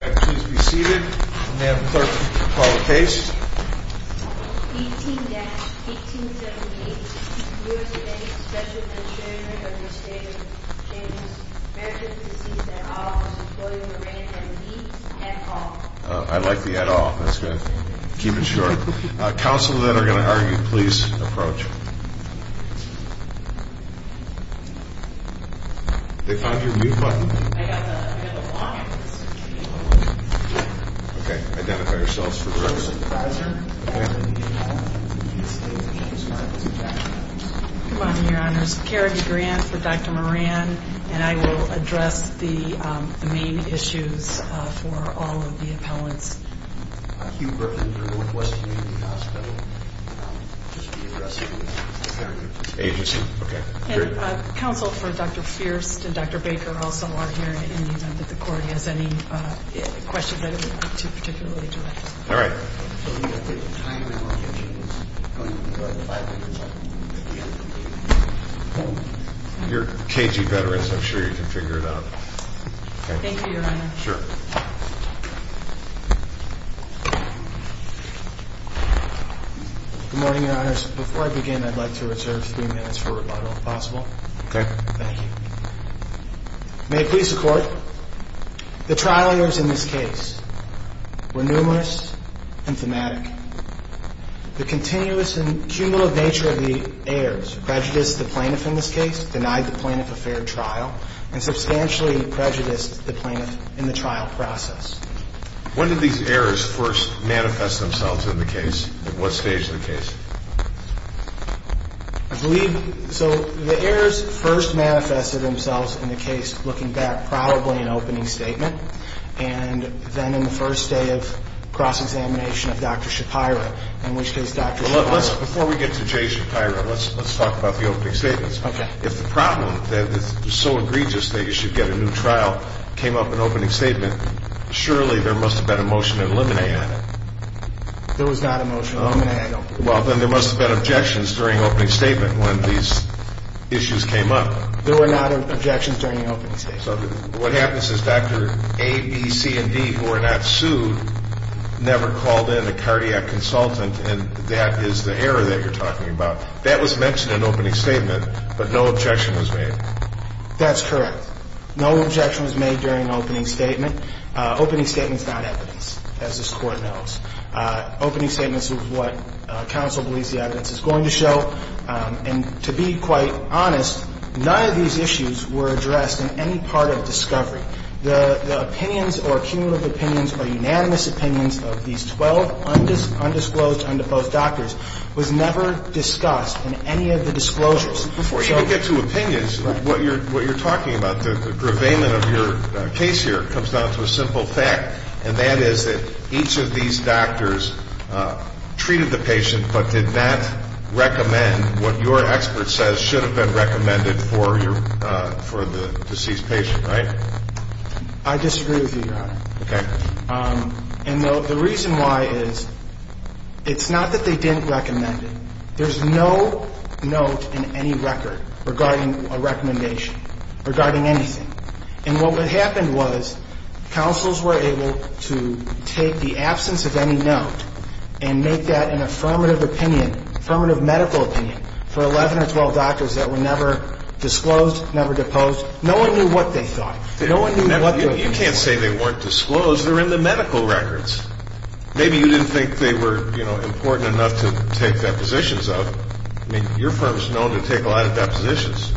May I please be seated? May I have the clerk to call the case? 18-1878, U.S. Bank, special consignor of the estate of James Merrick, deceased at office of William Moran and Leeds, et al. I like the et al. That's good. Keep it short. Counsel that are going to argue, please approach. They found your mute button. I got the long answer. Okay. Identify yourselves for the record. Good morning, Your Honors. Carrie DeGrant for Dr. Moran, and I will address the main issues for all of the appellants. Hugh Berkley for Northwest Community Hospital. Counsel for Dr. Fierst and Dr. Baker also are here in the event that the court has any questions that it would like to particularly direct. All right. You're a KG veteran, so I'm sure you can figure it out. Thank you, Your Honor. Sure. Good morning, Your Honors. Before I begin, I'd like to reserve three minutes for rebuttal, if possible. Okay. Thank you. May it please the court, the trial errors in this case were numerous and thematic. The continuous and cumulative nature of the errors prejudiced the plaintiff in this case, denied the plaintiff a fair trial, and substantially prejudiced the plaintiff in the trial process. When did these errors first manifest themselves in the case? At what stage of the case? I believe, so the errors first manifested themselves in the case looking back probably in opening statement, and then in the first day of cross-examination of Dr. Shapira, in which case Dr. Shapira Before we get to Jay Shapira, let's talk about the opening statements. Okay. If the problem that is so egregious that you should get a new trial came up in opening statement, surely there must have been a motion to eliminate it. There was not a motion to eliminate it. Well, then there must have been objections during opening statement when these issues came up. There were not objections during the opening statement. So what happens is Dr. A, B, C, and D, who are not sued, never called in a cardiac consultant, and that is the error that you're talking about. That was mentioned in opening statement, but no objection was made. That's correct. No objection was made during opening statement. Opening statement is not evidence, as this Court knows. Opening statement is what counsel believes the evidence is going to show, and to be quite honest, none of these issues were addressed in any part of discovery. The opinions or cumulative opinions or unanimous opinions of these 12 undisclosed, undisclosed doctors was never discussed in any of the disclosures. Before you get to opinions, what you're talking about, the purveyment of your case here, comes down to a simple fact, and that is that each of these doctors treated the patient but did not recommend what your expert says should have been recommended for the deceased patient, right? I disagree with you, Your Honor. Okay. And the reason why is it's not that they didn't recommend it. There's no note in any record regarding a recommendation, regarding anything. And what would happen was counsels were able to take the absence of any note and make that an affirmative opinion, affirmative medical opinion, for 11 or 12 doctors that were never disclosed, never deposed. No one knew what they thought. You can't say they weren't disclosed. They're in the medical records. Maybe you didn't think they were, you know, important enough to take depositions of. I mean, your firm's known to take a lot of depositions.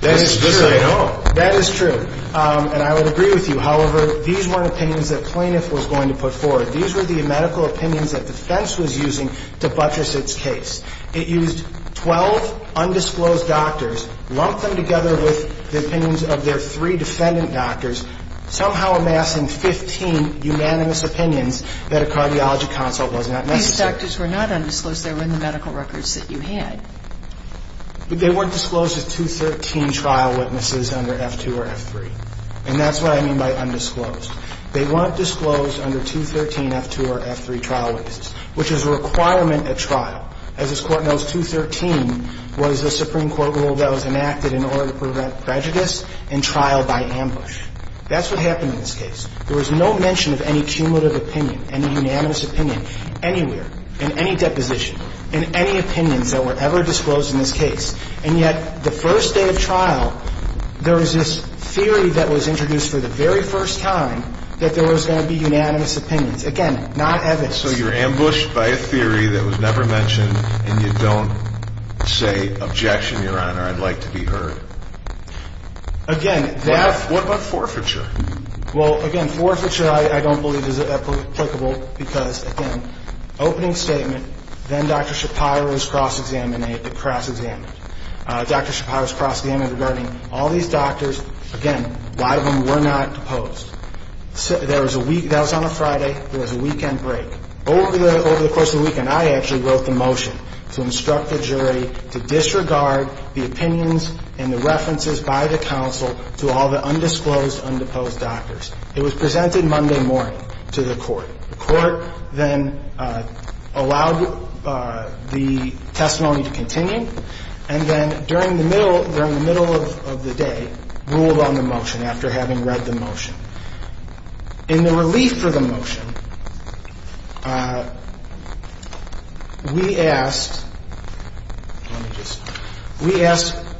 That is true. This I know. That is true. And I would agree with you. However, these weren't opinions that plaintiff was going to put forward. These were the medical opinions that defense was using to buttress its case. It used 12 undisclosed doctors, lumped them together with the opinions of their three defendant doctors, somehow amassing 15 unanimous opinions that a cardiology consult was not necessary. These doctors were not undisclosed. They were in the medical records that you had. But they weren't disclosed as 213 trial witnesses under F2 or F3. And that's what I mean by undisclosed. They weren't disclosed under 213 F2 or F3 trial witnesses, which is a requirement at trial. As this Court knows, 213 was a Supreme Court rule that was enacted in order to prevent prejudice in trial by ambush. That's what happened in this case. There was no mention of any cumulative opinion, any unanimous opinion, anywhere, in any deposition, in any opinions that were ever disclosed in this case. And yet the first day of trial, there was this theory that was introduced for the very first time that there was going to be unanimous opinions. Again, not evidence. So you're ambushed by a theory that was never mentioned, and you don't say, Objection, Your Honor. I'd like to be heard. What about forfeiture? Well, again, forfeiture I don't believe is applicable because, again, opening statement, then Dr. Shapiro is cross-examined. Dr. Shapiro is cross-examined regarding all these doctors. Again, a lot of them were not deposed. That was on a Friday. There was a weekend break. Over the course of the weekend, I actually wrote the motion to instruct the jury to disregard the opinions and the references by the counsel to all the undisclosed, undeposed doctors. It was presented Monday morning to the court. The court then allowed the testimony to continue, and then during the middle of the day, ruled on the motion after having read the motion. In the relief for the motion, we asked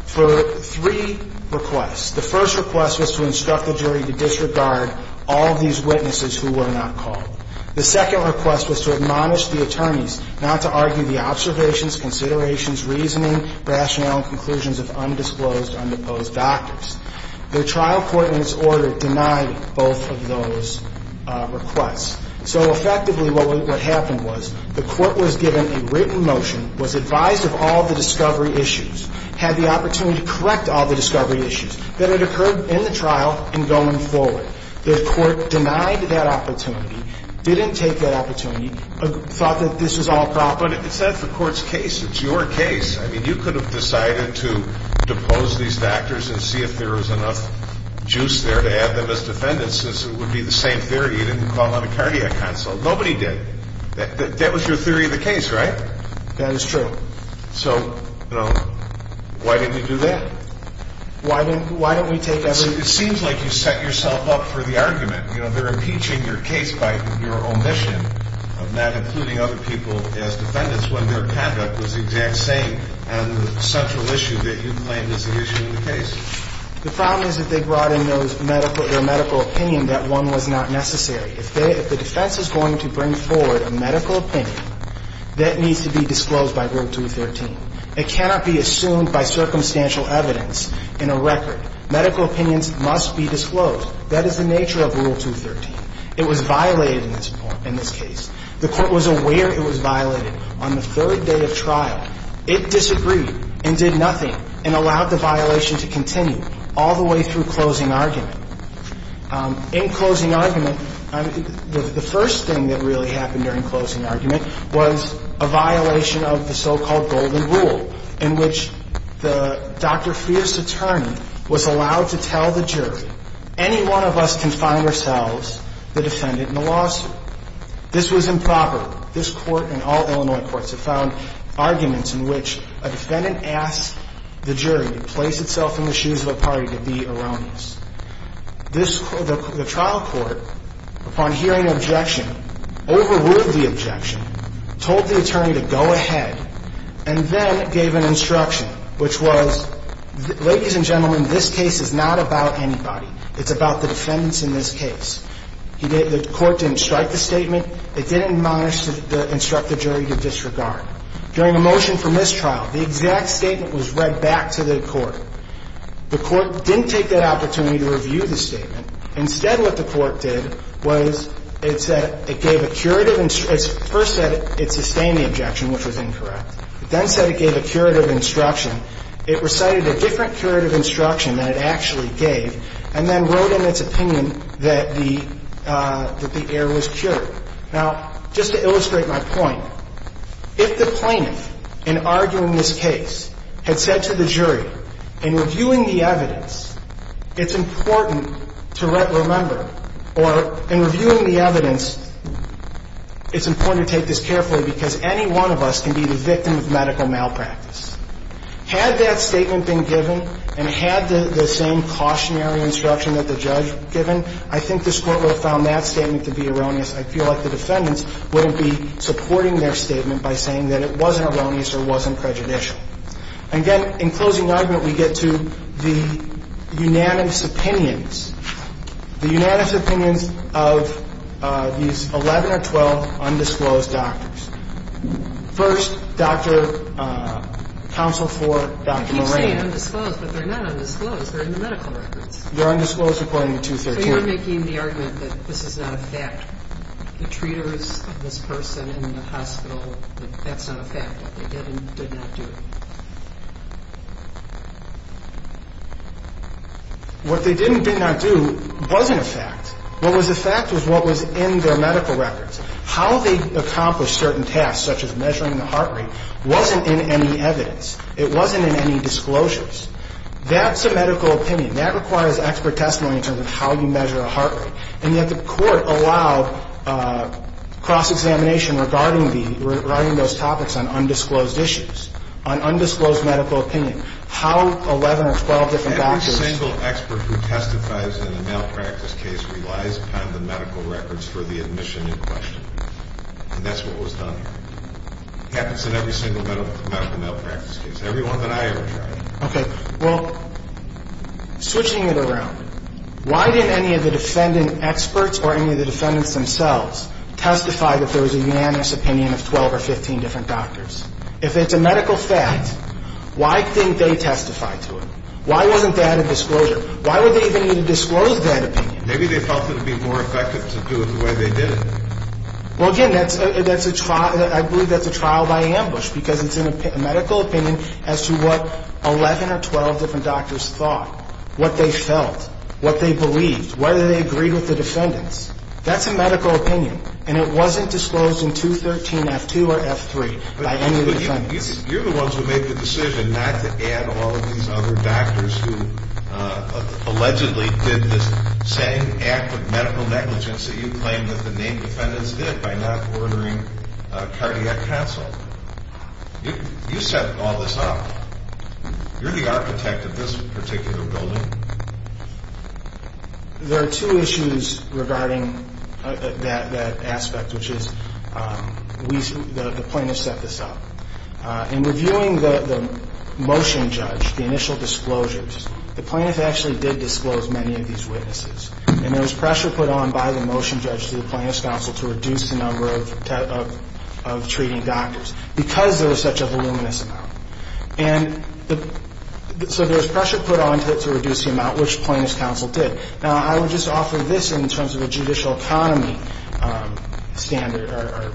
for three requests. The first request was to instruct the jury to disregard all these witnesses who were not called. The second request was to admonish the attorneys not to argue the observations, considerations, reasoning, rationale, and conclusions of undisclosed, undeposed doctors. The trial court in its order denied both of those requests. So effectively what happened was the court was given a written motion, was advised of all the discovery issues, had the opportunity to correct all the discovery issues. Then it occurred in the trial and going forward. The court denied that opportunity, didn't take that opportunity, thought that this was all proper. But it's not the court's case. It's your case. I mean, you could have decided to depose these doctors and see if there was enough juice there to add them as defendants, since it would be the same theory. You didn't call on a cardiac consult. Nobody did. That was your theory of the case, right? That is true. So, you know, why didn't you do that? Why didn't we take every? It seems like you set yourself up for the argument. You know, they're impeaching your case by your omission of not including other people as defendants when their conduct was the exact same and the central issue that you claim is the issue in the case. The problem is that they brought in their medical opinion that one was not necessary. If the defense is going to bring forward a medical opinion, that needs to be disclosed by Rule 213. It cannot be assumed by circumstantial evidence in a record. Medical opinions must be disclosed. That is the nature of Rule 213. It was violated in this case. The court was aware it was violated on the third day of trial. It disagreed and did nothing and allowed the violation to continue all the way through closing argument. In closing argument, the first thing that really happened during closing argument was a violation of the so-called Golden Rule in which the Dr. Friest attorney was allowed to tell the jury, Any one of us can find ourselves the defendant in the lawsuit. This was improper. This court and all Illinois courts have found arguments in which a defendant asks the jury to place itself in the shoes of a party to be erroneous. The trial court, upon hearing objection, overruled the objection, told the attorney to go ahead, and then gave an instruction, which was, ladies and gentlemen, this case is not about anybody. It's about the defendants in this case. The court didn't strike the statement. It didn't instruct the jury to disregard. During the motion for mistrial, the exact statement was read back to the court. Now, the court didn't strike the statement. Instead, what the court did was it said it gave a curative ‑‑ first said it sustained the objection, which was incorrect, but then said it gave a curative instruction. It recited a different curative instruction than it actually gave and then wrote in its opinion that the error was cured. Now, just to illustrate my point, if the plaintiff, in arguing this case, had said to the jury, in reviewing the evidence, it's important to remember, or in reviewing the evidence, it's important to take this carefully because any one of us can be the victim of medical malpractice. Had that statement been given and had the same cautionary instruction that the judge given, I think this Court would have found that statement to be erroneous. I feel like the defendants wouldn't be supporting their statement by saying that it wasn't erroneous or wasn't prejudicial. Again, in closing argument, we get to the unanimous opinions. The unanimous opinions of these 11 or 12 undisclosed doctors. First, counsel for Dr. Moran. I keep saying undisclosed, but they're not undisclosed. They're in the medical records. They're undisclosed according to 213. So you're making the argument that this is not a fact. The treaters of this person in the hospital, that's not a fact, that they did and did not do it. What they did and did not do wasn't a fact. What was a fact was what was in their medical records. How they accomplished certain tasks, such as measuring the heart rate, wasn't in any evidence. It wasn't in any disclosures. That's a medical opinion. That requires expert testimony in terms of how you measure a heart rate, and yet the court allowed cross-examination regarding those topics on undisclosed issues, on undisclosed medical opinion, how 11 or 12 different doctors. Every single expert who testifies in a malpractice case relies upon the medical records for the admission in question, and that's what was done. It happens in every single medical malpractice case, every one that I ever tried. Okay, well, switching it around, why didn't any of the defendant experts or any of the defendants themselves testify that there was a unanimous opinion of 12 or 15 different doctors? If it's a medical fact, why didn't they testify to it? Why wasn't that a disclosure? Why would they even need to disclose that opinion? Maybe they felt it would be more effective to do it the way they did it. Well, again, that's a trial. It's a trial by ambush because it's a medical opinion as to what 11 or 12 different doctors thought, what they felt, what they believed, whether they agreed with the defendants. That's a medical opinion, and it wasn't disclosed in 213F2 or F3 by any of the defendants. But you're the ones who made the decision not to add all of these other doctors who allegedly did this same act of medical negligence that you claim that the named defendants did by not ordering a cardiac counsel. You set all this up. You're the architect of this particular building. There are two issues regarding that aspect, which is the plaintiff set this up. In reviewing the motion judge, the initial disclosures, the plaintiff actually did disclose many of these witnesses, and there was pressure put on by the motion judge to the plaintiff's counsel to reduce the number of treating doctors because there was such a voluminous amount. And so there was pressure put on to reduce the amount, which plaintiff's counsel did. Now, I would just offer this in terms of a judicial economy standard or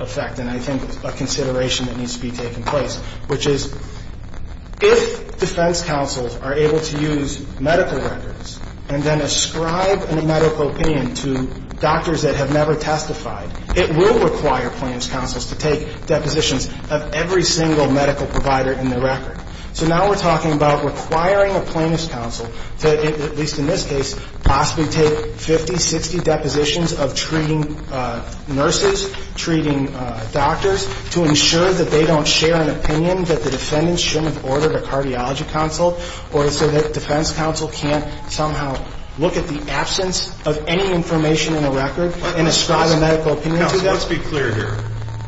effect, and I think a consideration that needs to be taken place, which is if defense counsels are able to use medical records and then ascribe a medical opinion to doctors that have never testified, it will require plaintiff's counsels to take depositions of every single medical provider in the record. So now we're talking about requiring a plaintiff's counsel to, at least in this case, possibly take 50, 60 depositions of treating nurses, treating doctors, to ensure that they don't share an opinion that the defendant shouldn't have ordered a cardiology counsel or so that defense counsel can't somehow look at the absence of any information in the record and ascribe a medical opinion to them. Now, let's be clear here.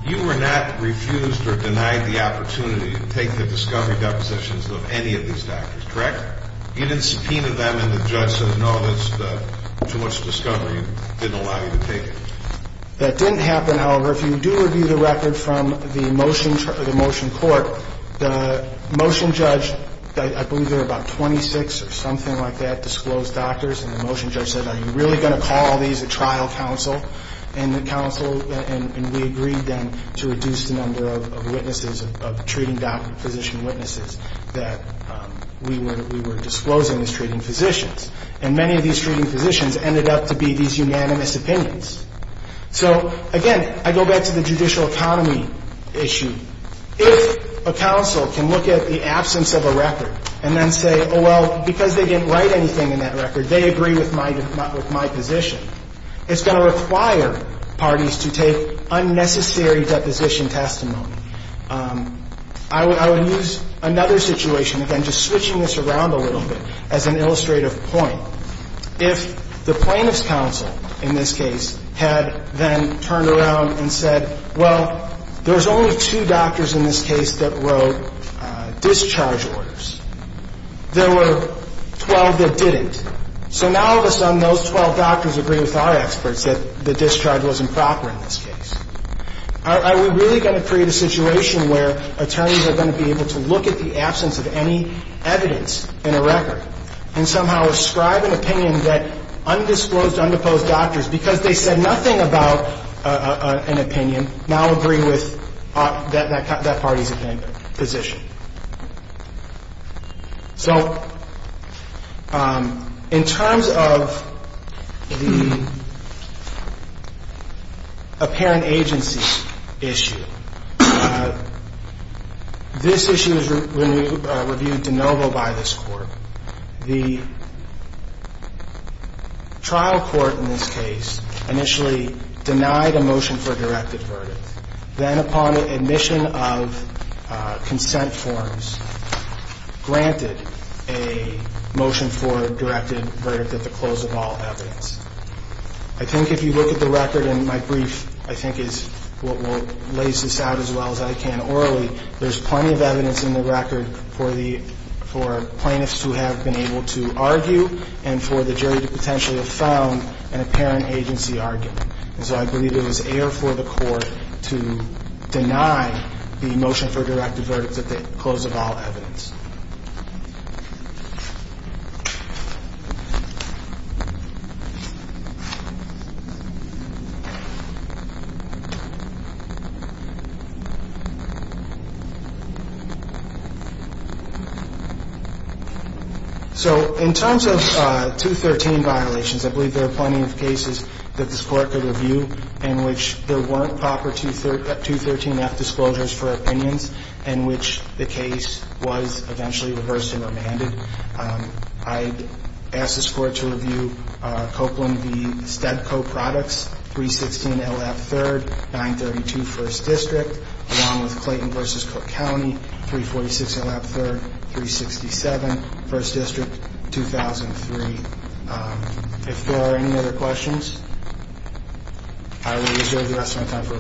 You were not refused or denied the opportunity to take the discovery depositions of any of these doctors, correct? You didn't subpoena them and the judge said, no, that's too much discovery, didn't allow you to take it. That didn't happen, however, if you do review the record from the motion court, the motion judge, I believe there were about 26 or something like that, disclosed doctors, and the motion judge said, are you really going to call these a trial counsel? And we agreed then to reduce the number of witnesses, of treating physician witnesses that we were disclosing as treating physicians. And many of these treating physicians ended up to be these unanimous opinions. So, again, I go back to the judicial economy issue. If a counsel can look at the absence of a record and then say, oh, well, because they didn't write anything in that record, they agree with my position, it's going to require parties to take unnecessary deposition testimony. I would use another situation, again, just switching this around a little bit, as an illustrative point. If the plaintiff's counsel in this case had then turned around and said, well, there was only two doctors in this case that wrote discharge orders. There were 12 that didn't. So now, all of a sudden, those 12 doctors agree with our experts that the discharge wasn't proper in this case. Are we really going to create a situation where attorneys are going to be able to look at the absence of any evidence in a record and somehow ascribe an opinion that undisclosed, undeposed doctors, because they said nothing about an opinion, now agree with that party's position? So in terms of the apparent agency issue, this issue is reviewed de novo by this Court. The trial court in this case initially denied a motion for a direct advertise, then upon admission of consent forms, granted a motion for a directed verdict at the close of all evidence. I think if you look at the record, and my brief, I think, is what will lace this out as well as I can orally, there's plenty of evidence in the record for plaintiffs who have been able to argue and for the jury to potentially have found an apparent agency argument. And so I believe it was air for the Court to deny the motion for a directed verdict at the close of all evidence. So in terms of 213 violations, I believe there are plenty of cases that this Court could review in which there weren't proper 213F disclosures for opinions, in which the case was a direct advertise. It was eventually reversed and remanded. I ask this Court to review Copeland v. Stedco Products, 316 L.F. 3rd, 932 1st District, along with Clayton v. Cook County, 346 L.F. 3rd, 367 1st District, 2003. If there are any other questions, I will reserve the rest of my time for rebuttal.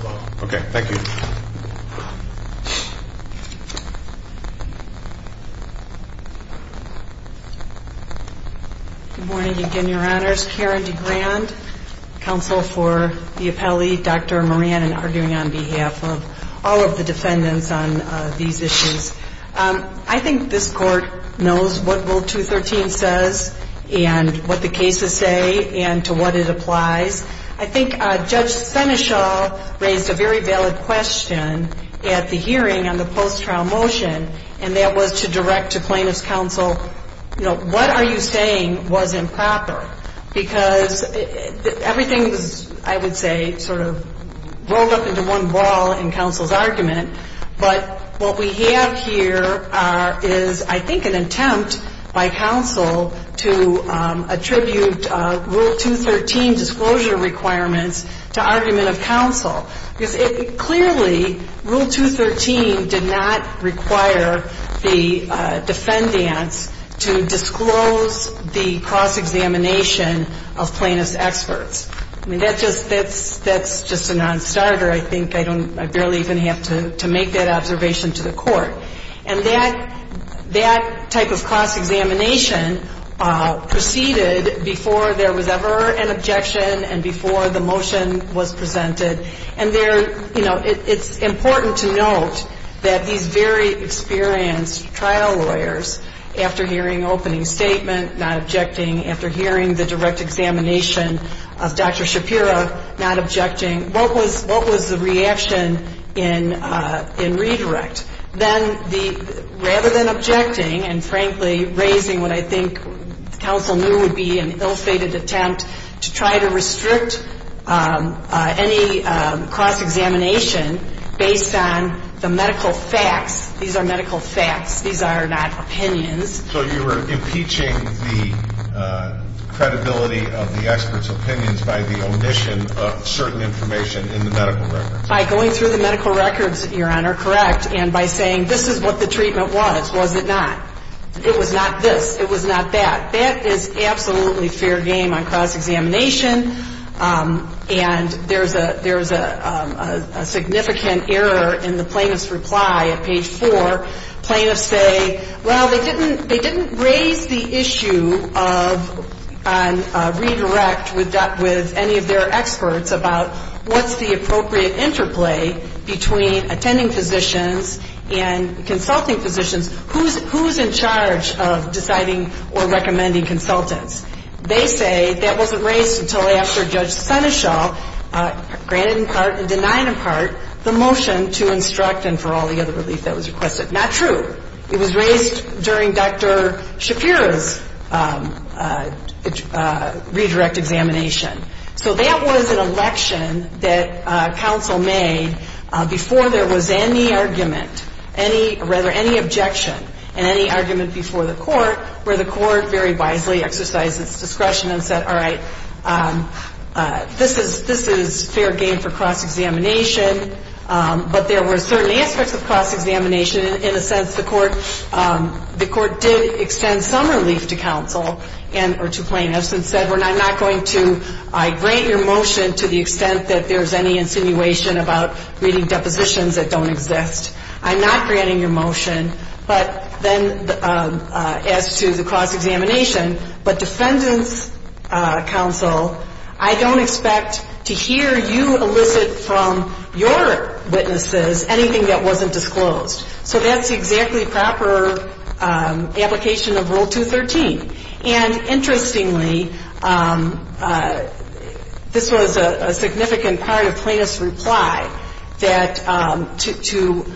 Good morning again, Your Honors. Karen DeGrand, counsel for the appellee, Dr. Moran, and arguing on behalf of all of the defendants on these issues. I think this Court knows what Rule 213 says and what the cases say and to what it applies. I think Judge Senechal raised a very valid question at the hearing on the post-trial motion, and that was to direct the Court to review the motion. I think it was a very valid question to direct to plaintiff's counsel, you know, what are you saying was improper? Because everything was, I would say, sort of rolled up into one ball in counsel's argument. But what we have here is, I think, an attempt by counsel to attribute Rule 213 disclosure requirements to argument of counsel. Because clearly, Rule 213 did not require the defendants to disclose the cross-examination of plaintiff's experts. I mean, that's just a non-starter. I think I barely even have to make that observation to the Court. And that type of cross-examination proceeded before there was ever an objection and before the motion was presented. And there, you know, it's important to note that these very experienced trial lawyers, after hearing opening statement, not objecting, after hearing the direct examination of Dr. Shapira, not objecting, what was the reaction in redirect? Then the, rather than objecting and, frankly, raising what I think counsel knew would be an ill-fated attempt to try to restrict any cross-examination, based on the medical facts. These are medical facts. These are not opinions. So you were impeaching the credibility of the experts' opinions by the omission of certain information in the medical records. By going through the medical records, Your Honor, correct, and by saying, this is what the treatment was. Was it not? It was not this. It was not that. That is absolutely fair game on cross-examination. And there's a significant error in the plaintiff's reply at page four. Plaintiffs say, well, they didn't raise the issue on redirect with any of their experts about what's the appropriate interplay between attending physicians and consulting physicians, who's in charge of deciding or recommending consultants. They say that wasn't raised until after Judge Senechal granted in part and denied in part the motion to instruct and for all the other relief that was requested. Not true. It was raised during Dr. Shapira's redirect examination. So that was an election that counsel made before there was any argument, any, rather, any objection, and any argument before the court, where the court very wisely exercised its discretion. And said, all right, this is fair game for cross-examination. But there were certain aspects of cross-examination. In a sense, the court did extend some relief to counsel and or to plaintiffs and said, I'm not going to grant your motion to the extent that there's any insinuation about reading depositions that don't exist. I'm not granting your motion, but then as to the cross-examination, but defer to counsel. I don't expect to hear you elicit from your witnesses anything that wasn't disclosed. So that's exactly proper application of Rule 213. And interestingly, this was a significant part of plaintiff's reply, that to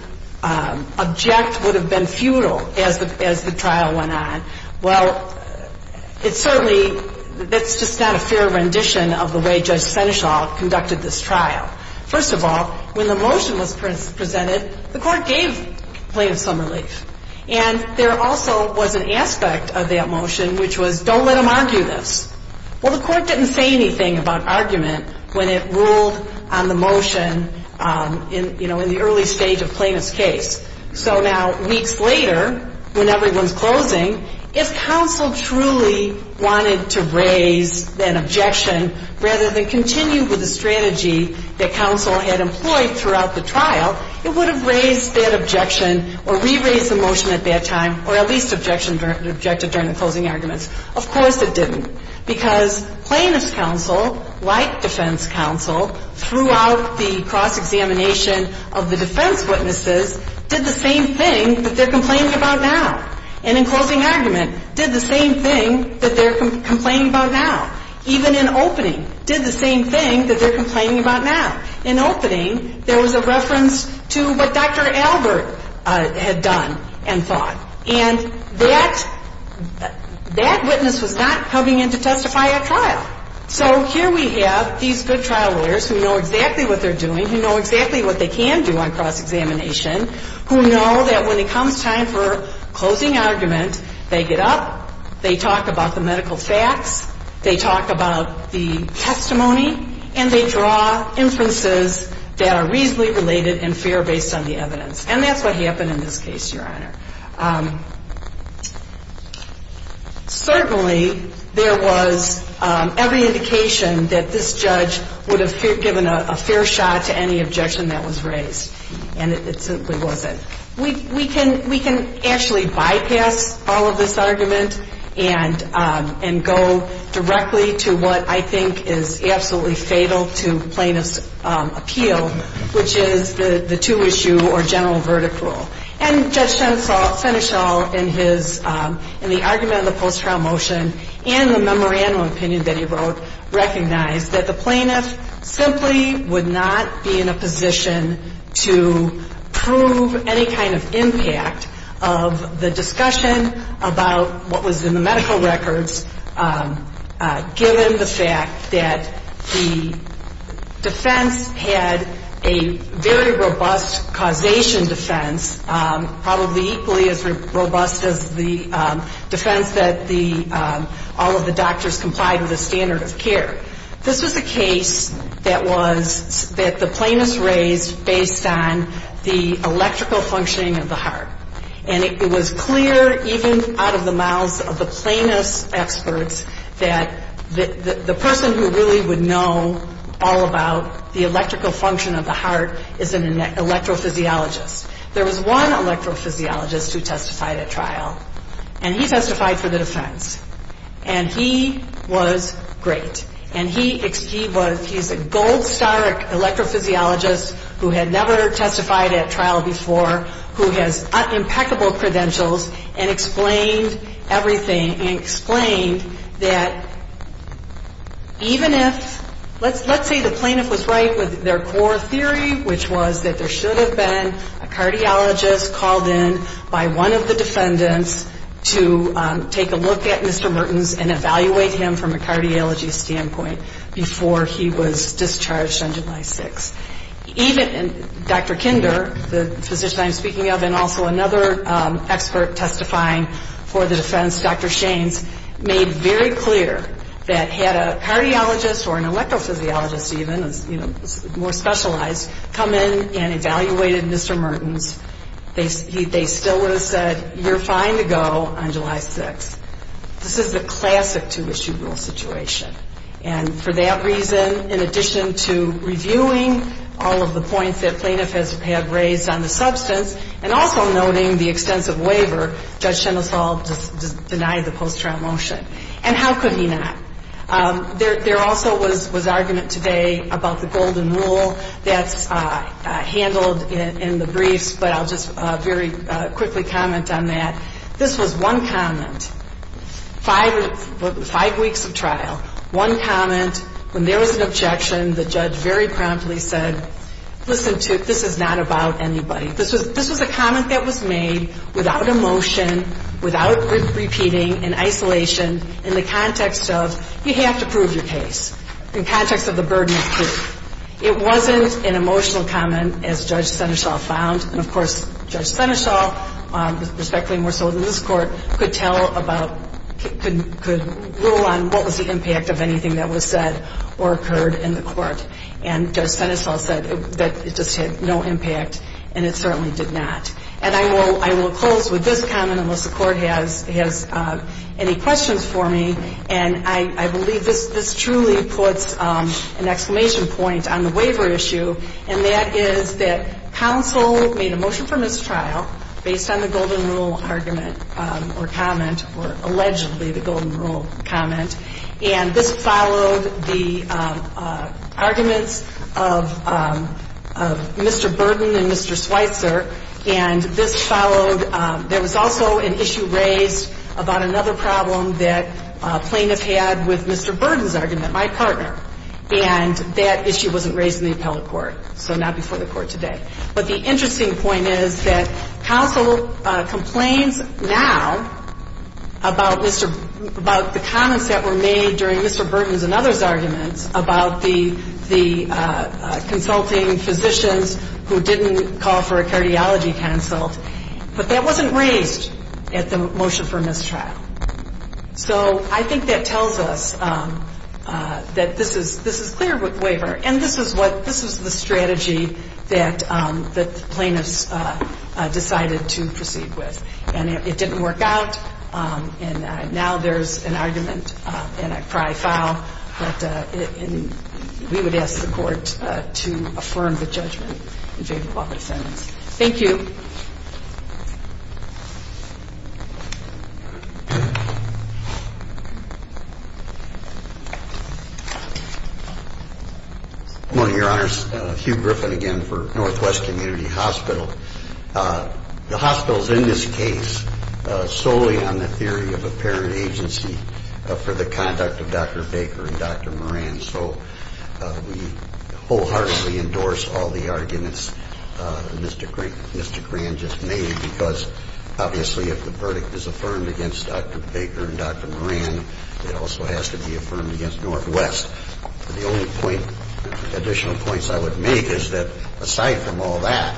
object would have been futile as the trial went on. Well, it certainly, that's just not a fair rendition of the way Judge Senechoff conducted this trial. First of all, when the motion was presented, the court gave plaintiffs some relief. And there also was an aspect of that motion, which was, don't let them argue this. Well, the court didn't say anything about argument when it ruled on the motion in, you know, in the early stage of plaintiff's case. So now, weeks later, when everyone's closing, if counsel truly wanted to raise an objection, rather than continue with the strategy that counsel had employed throughout the trial, it would have raised that objection or re-raised the motion at that time, or at least objected during the closing arguments. Of course it didn't, because plaintiff's counsel, like defense counsel, throughout the cross-examination of the defense witnesses, did the same thing that they're complaining about now. And in closing argument, did the same thing that they're complaining about now. Even in opening, did the same thing that they're complaining about now. In opening, there was a reference to what Dr. Albert had done and thought. And that witness was not coming in to testify at trial. So here we have these good trial lawyers who know exactly what they're doing, who know exactly what they can do on cross-examination, who know that when it comes time for closing argument, they get up, they talk about the medical facts, they talk about the testimony, and they draw inferences that are reasonably related and fair based on the evidence. And that's what happened in this case, Your Honor. Certainly there was every indication that this judge would have given a fair shot to any objection that was raised. And it simply wasn't. We can actually bypass all of this argument and go directly to what I think is absolutely fatal to plaintiff's appeal, which is the two-issue or general verdict rule. And Judge Senechel, in the argument of the post-trial motion and the memorandum opinion that he wrote, recognized that the plaintiff simply would not be in a position to prove any kind of impact of the discussion about what was in the medical records, given the fact that the defense had a very robust causation defense, probably equally as robust as the defense that all of the doctors complied with the standard of care. This was a case that the plaintiff raised based on the electrical functioning of the heart. And it was clear, even out of the mouths of the plaintiff's experts, that the person who really would know all about the electrical function of the heart is an electrophysiologist. There was one electrophysiologist who testified at trial, and he testified for the defense. And he was great. And he was, he's a gold star electrophysiologist who had never testified at trial before, who has impeccable credentials, and explained everything, and explained that even if, let's say the plaintiff was right with their core theory, which was that there should have been a cardiologist called in by one of the defendants to take a look at Mr. Mertens and evaluate him from a cardiology standpoint before he was discharged on July 6th. Even Dr. Kinder, the physician I'm speaking of, and also another expert testifying for the defense, Dr. Shaines, made very clear that had a cardiologist or an electrophysiologist even, you know, more specialized, come in and evaluated Mr. Mertens, they still would have said, you're fine to go on July 6th. This is the classic two-issue rule situation. And for that reason, in addition to reviewing all of the points that plaintiff has had raised on the substance, and also noting the extensive waiver, Judge Shenasol denied the post-trial motion. And how could he not? There also was argument today about the golden rule that's handled in the briefs, but I'll just very quickly comment on that. This was one comment, five weeks of trial, one comment, when there was an objection, the judge very promptly said, listen, this is not about anybody. This was a comment that was made without a motion, without repeating, in isolation, in the context of you have to prove your case, in context of the burden of proof. It wasn't an emotional comment, as Judge Shenasol found. And of course, Judge Shenasol, respectfully more so than this Court, could rule on what was the impact of anything that was said or occurred in the Court. And Judge Shenasol said that it just had no impact, and it certainly did not. And I will close with this comment, unless the Court has any questions for me. And I believe this truly puts an exclamation point on the waiver issue, and that is that counsel made a motion for mistrial based on the golden rule argument or comment, or allegedly the golden rule comment. And this followed the arguments of Mr. Burden and Mr. Schweitzer, and this followed – there was also an issue raised about another problem that plaintiffs had with Mr. Burden's argument, my partner. And that issue wasn't raised in the appellate court, so not before the Court today. But the interesting point is that counsel complains now about Mr. – about the comments that were made during Mr. Burden's and others' arguments about the consulting physicians who didn't call for a cardiology consult, but that wasn't raised at the motion for mistrial. So I think that tells us that this is clear with waiver, and this is what – this is the strategy that the plaintiffs decided to proceed with. And it didn't work out, and now there's an argument, and I probably foul, and we would ask the Court to affirm the judgment in favor of all the defendants. Thank you. Good morning, Your Honors. Hugh Griffin again for Northwest Community Hospital. The hospitals in this case solely on the theory of apparent agency for the conduct of Dr. Baker and Dr. Moran. So we wholeheartedly endorse all the arguments Mr. Gran just made, because obviously if the verdict is affirmed against Dr. Baker and Dr. Moran, it also has to be affirmed against Northwest. The only point – additional points I would make is that aside from all that,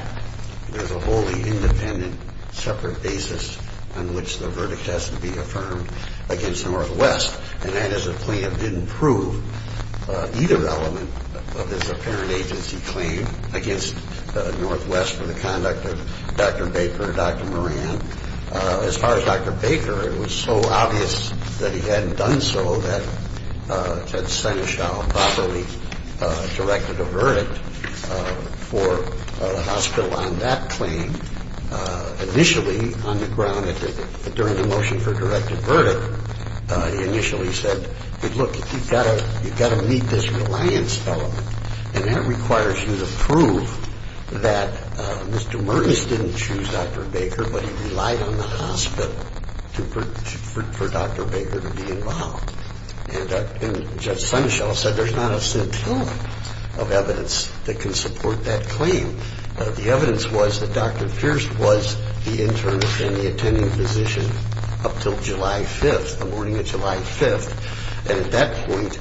there's a wholly independent separate basis on which the verdict has to be affirmed against Northwest, and that is the plaintiff didn't prove either element of this apparent agency claim against Northwest for the conduct of Dr. Baker and Dr. Moran. As far as Dr. Baker, it was so obvious that he hadn't done so that Seneschal properly directed a verdict for the hospital on that claim. Initially on the ground, during the motion for directed verdict, he initially said, look, you've got to meet this reliance element, and that requires you to prove that Mr. Mertens didn't choose Dr. Baker, but he relied on the hospital for Dr. Baker to be involved. And Judge Seneschal said there's not a scintilla of evidence that can support that claim. The evidence was that Dr. Pierce was the intern and the attending physician up until July 5th, the morning of July 5th, and at that point,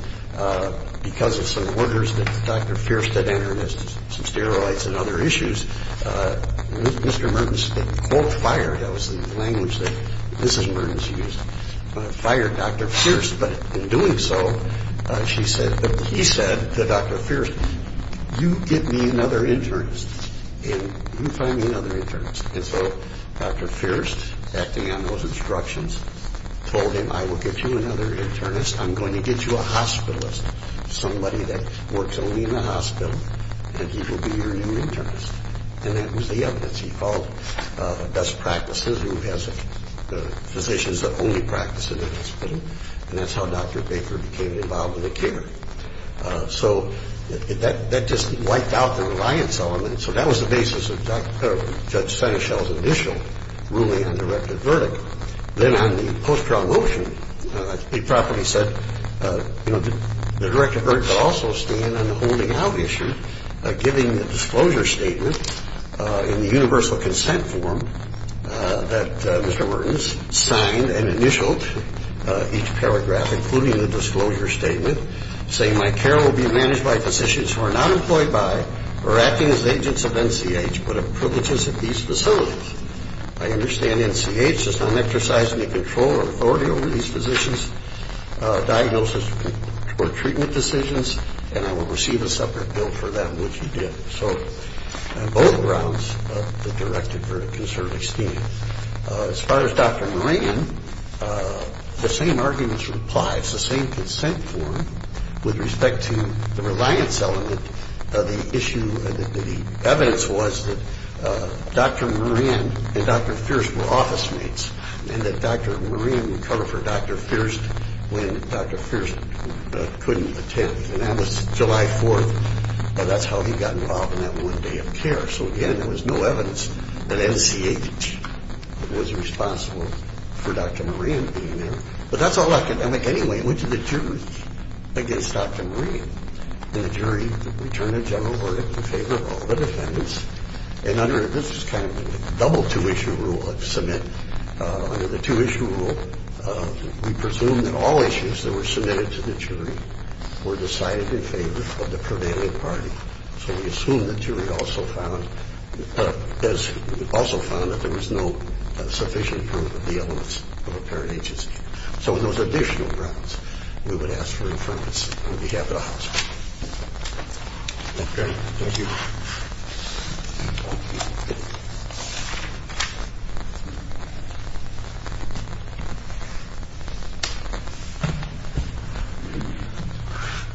because of some orders that Dr. Pierce had entered as some steroids and other issues, Mr. Mertens quote fired, that was the language that Mrs. Mertens used, fired Dr. Pierce, but in doing so, he said to Dr. Pierce, you give me another internist, and you find me another internist. And so Dr. Pierce, acting on those instructions, told him, I will get you another internist, I'm going to get you a hospitalist, somebody that works only in the hospital, and he will be your new internist. And that was the evidence. He called best practices, who has physicians that only practice in the hospital, and that's how Dr. Baker became involved in the care. So that just wiped out the reliance element, so that was the basis of Judge Seneschal's initial ruling and directed verdict. Then on the post-trial motion, he properly said, you know, the direct verdict will also stand on the holding out issue, giving the disclosure statement in the universal consent form that Mr. Mertens signed and initialed each paragraph, including the disclosure statement, saying my care will be managed by physicians who are not employed by or acting as agents of NCH, but of privileges at these facilities. I understand NCH does not exercise any control or authority over these physicians' diagnosis or treatment decisions, and I will receive a separate bill for that, which he did. So on both grounds, the directed verdict can certainly stand. As far as Dr. Moran, the same arguments apply. It's the same consent form. With respect to the reliance element, the issue, the evidence was that Dr. Moran and Dr. Fierst were office mates and that Dr. Moran would cover for Dr. Fierst when Dr. Fierst couldn't attend, and that was July 4th, and that's how he got involved in that one day of care. So, again, there was no evidence that NCH was responsible for Dr. Moran being there. But that's all academic anyway. We went to the jury against Dr. Moran, and the jury returned a general verdict in favor of all the defendants, and under this kind of a double two-issue rule of submit, under the two-issue rule, we presumed that all issues that were submitted to the jury were decided in favor of the prevailing party. So we assume the jury also found that there was no sufficient proof of the elements of a parent agency. So on those additional grounds, we would ask for information on behalf of the House. Thank you very much. Thank you.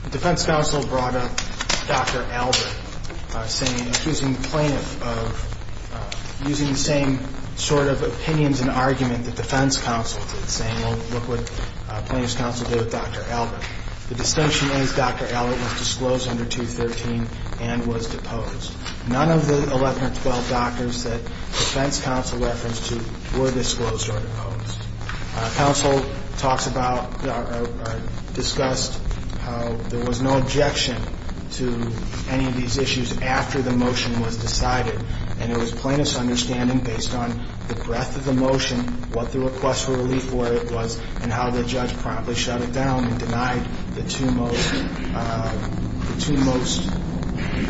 The defense counsel brought up Dr. Albert, saying, accusing the plaintiff of using the same sort of opinions and argument that defense counsel did, saying, well, look what plaintiff's counsel did with Dr. Albert. The distinction is Dr. Albert was disclosed under 213 and was deposed. None of the 11 or 12 doctors that defense counsel referenced to were disclosed or deposed. Counsel talks about or discussed how there was no objection to any of these issues after the motion was decided, and it was plaintiff's understanding, based on the breadth of the motion, what the request for relief was, and how the judge promptly shut it down and denied the two most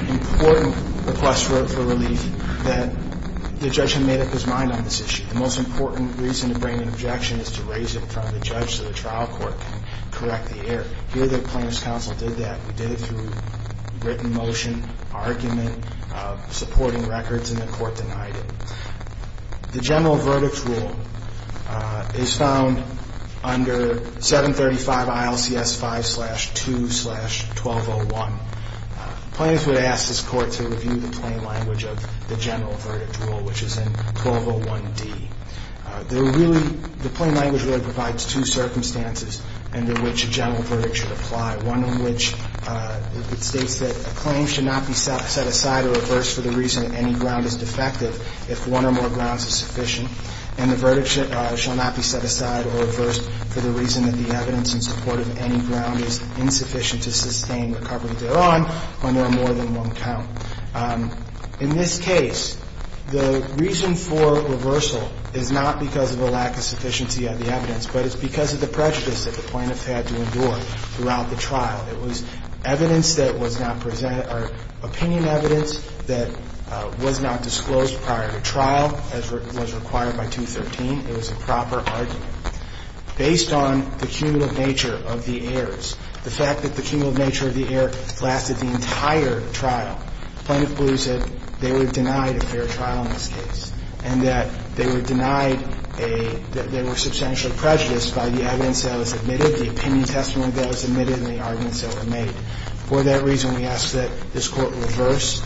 important requests for relief that the judge had made up his mind on this issue. The most important reason to bring an objection is to raise it in front of the judge so the trial court can correct the error. Here, the plaintiff's counsel did that. He did it through written motion, argument, supporting records, and the court denied it. The general verdict rule is found under 735 ILCS 5-2-1201. Plaintiff would ask his court to review the plain language of the general verdict rule, which is in 1201D. The plain language really provides two circumstances under which a general verdict should apply, one in which it states that a claim should not be set aside or reversed for the reason that any ground is defective if one or more grounds is sufficient, and the verdict shall not be set aside or reversed for the reason that the evidence in support of any ground is insufficient to sustain recovery thereon when there are more than one count. In this case, the reason for reversal is not because of a lack of sufficiency of the evidence, but it's because of the prejudice that the plaintiff had to endure throughout the trial. It was evidence that was not presented or opinion evidence that was not disclosed prior to trial, as was required by 213. It was a proper argument. Based on the cumulative nature of the errors, the fact that the cumulative nature of the error lasted the entire trial, Plaintiff believes that they were denied a fair trial in this case, and that they were denied a – that they were substantially prejudiced by the evidence that was admitted, the opinion testimony that was admitted, and the arguments that were made. For that reason, we ask that this Court reverse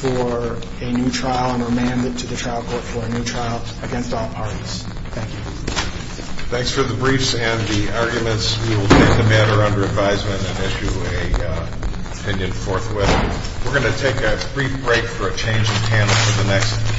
for a new trial and remand it to the trial court for a new trial against all parties. Thank you. Thanks for the briefs and the arguments. We will take the matter under advisement and issue an opinion forthwith. We're going to take a brief break for a change of panel for the next.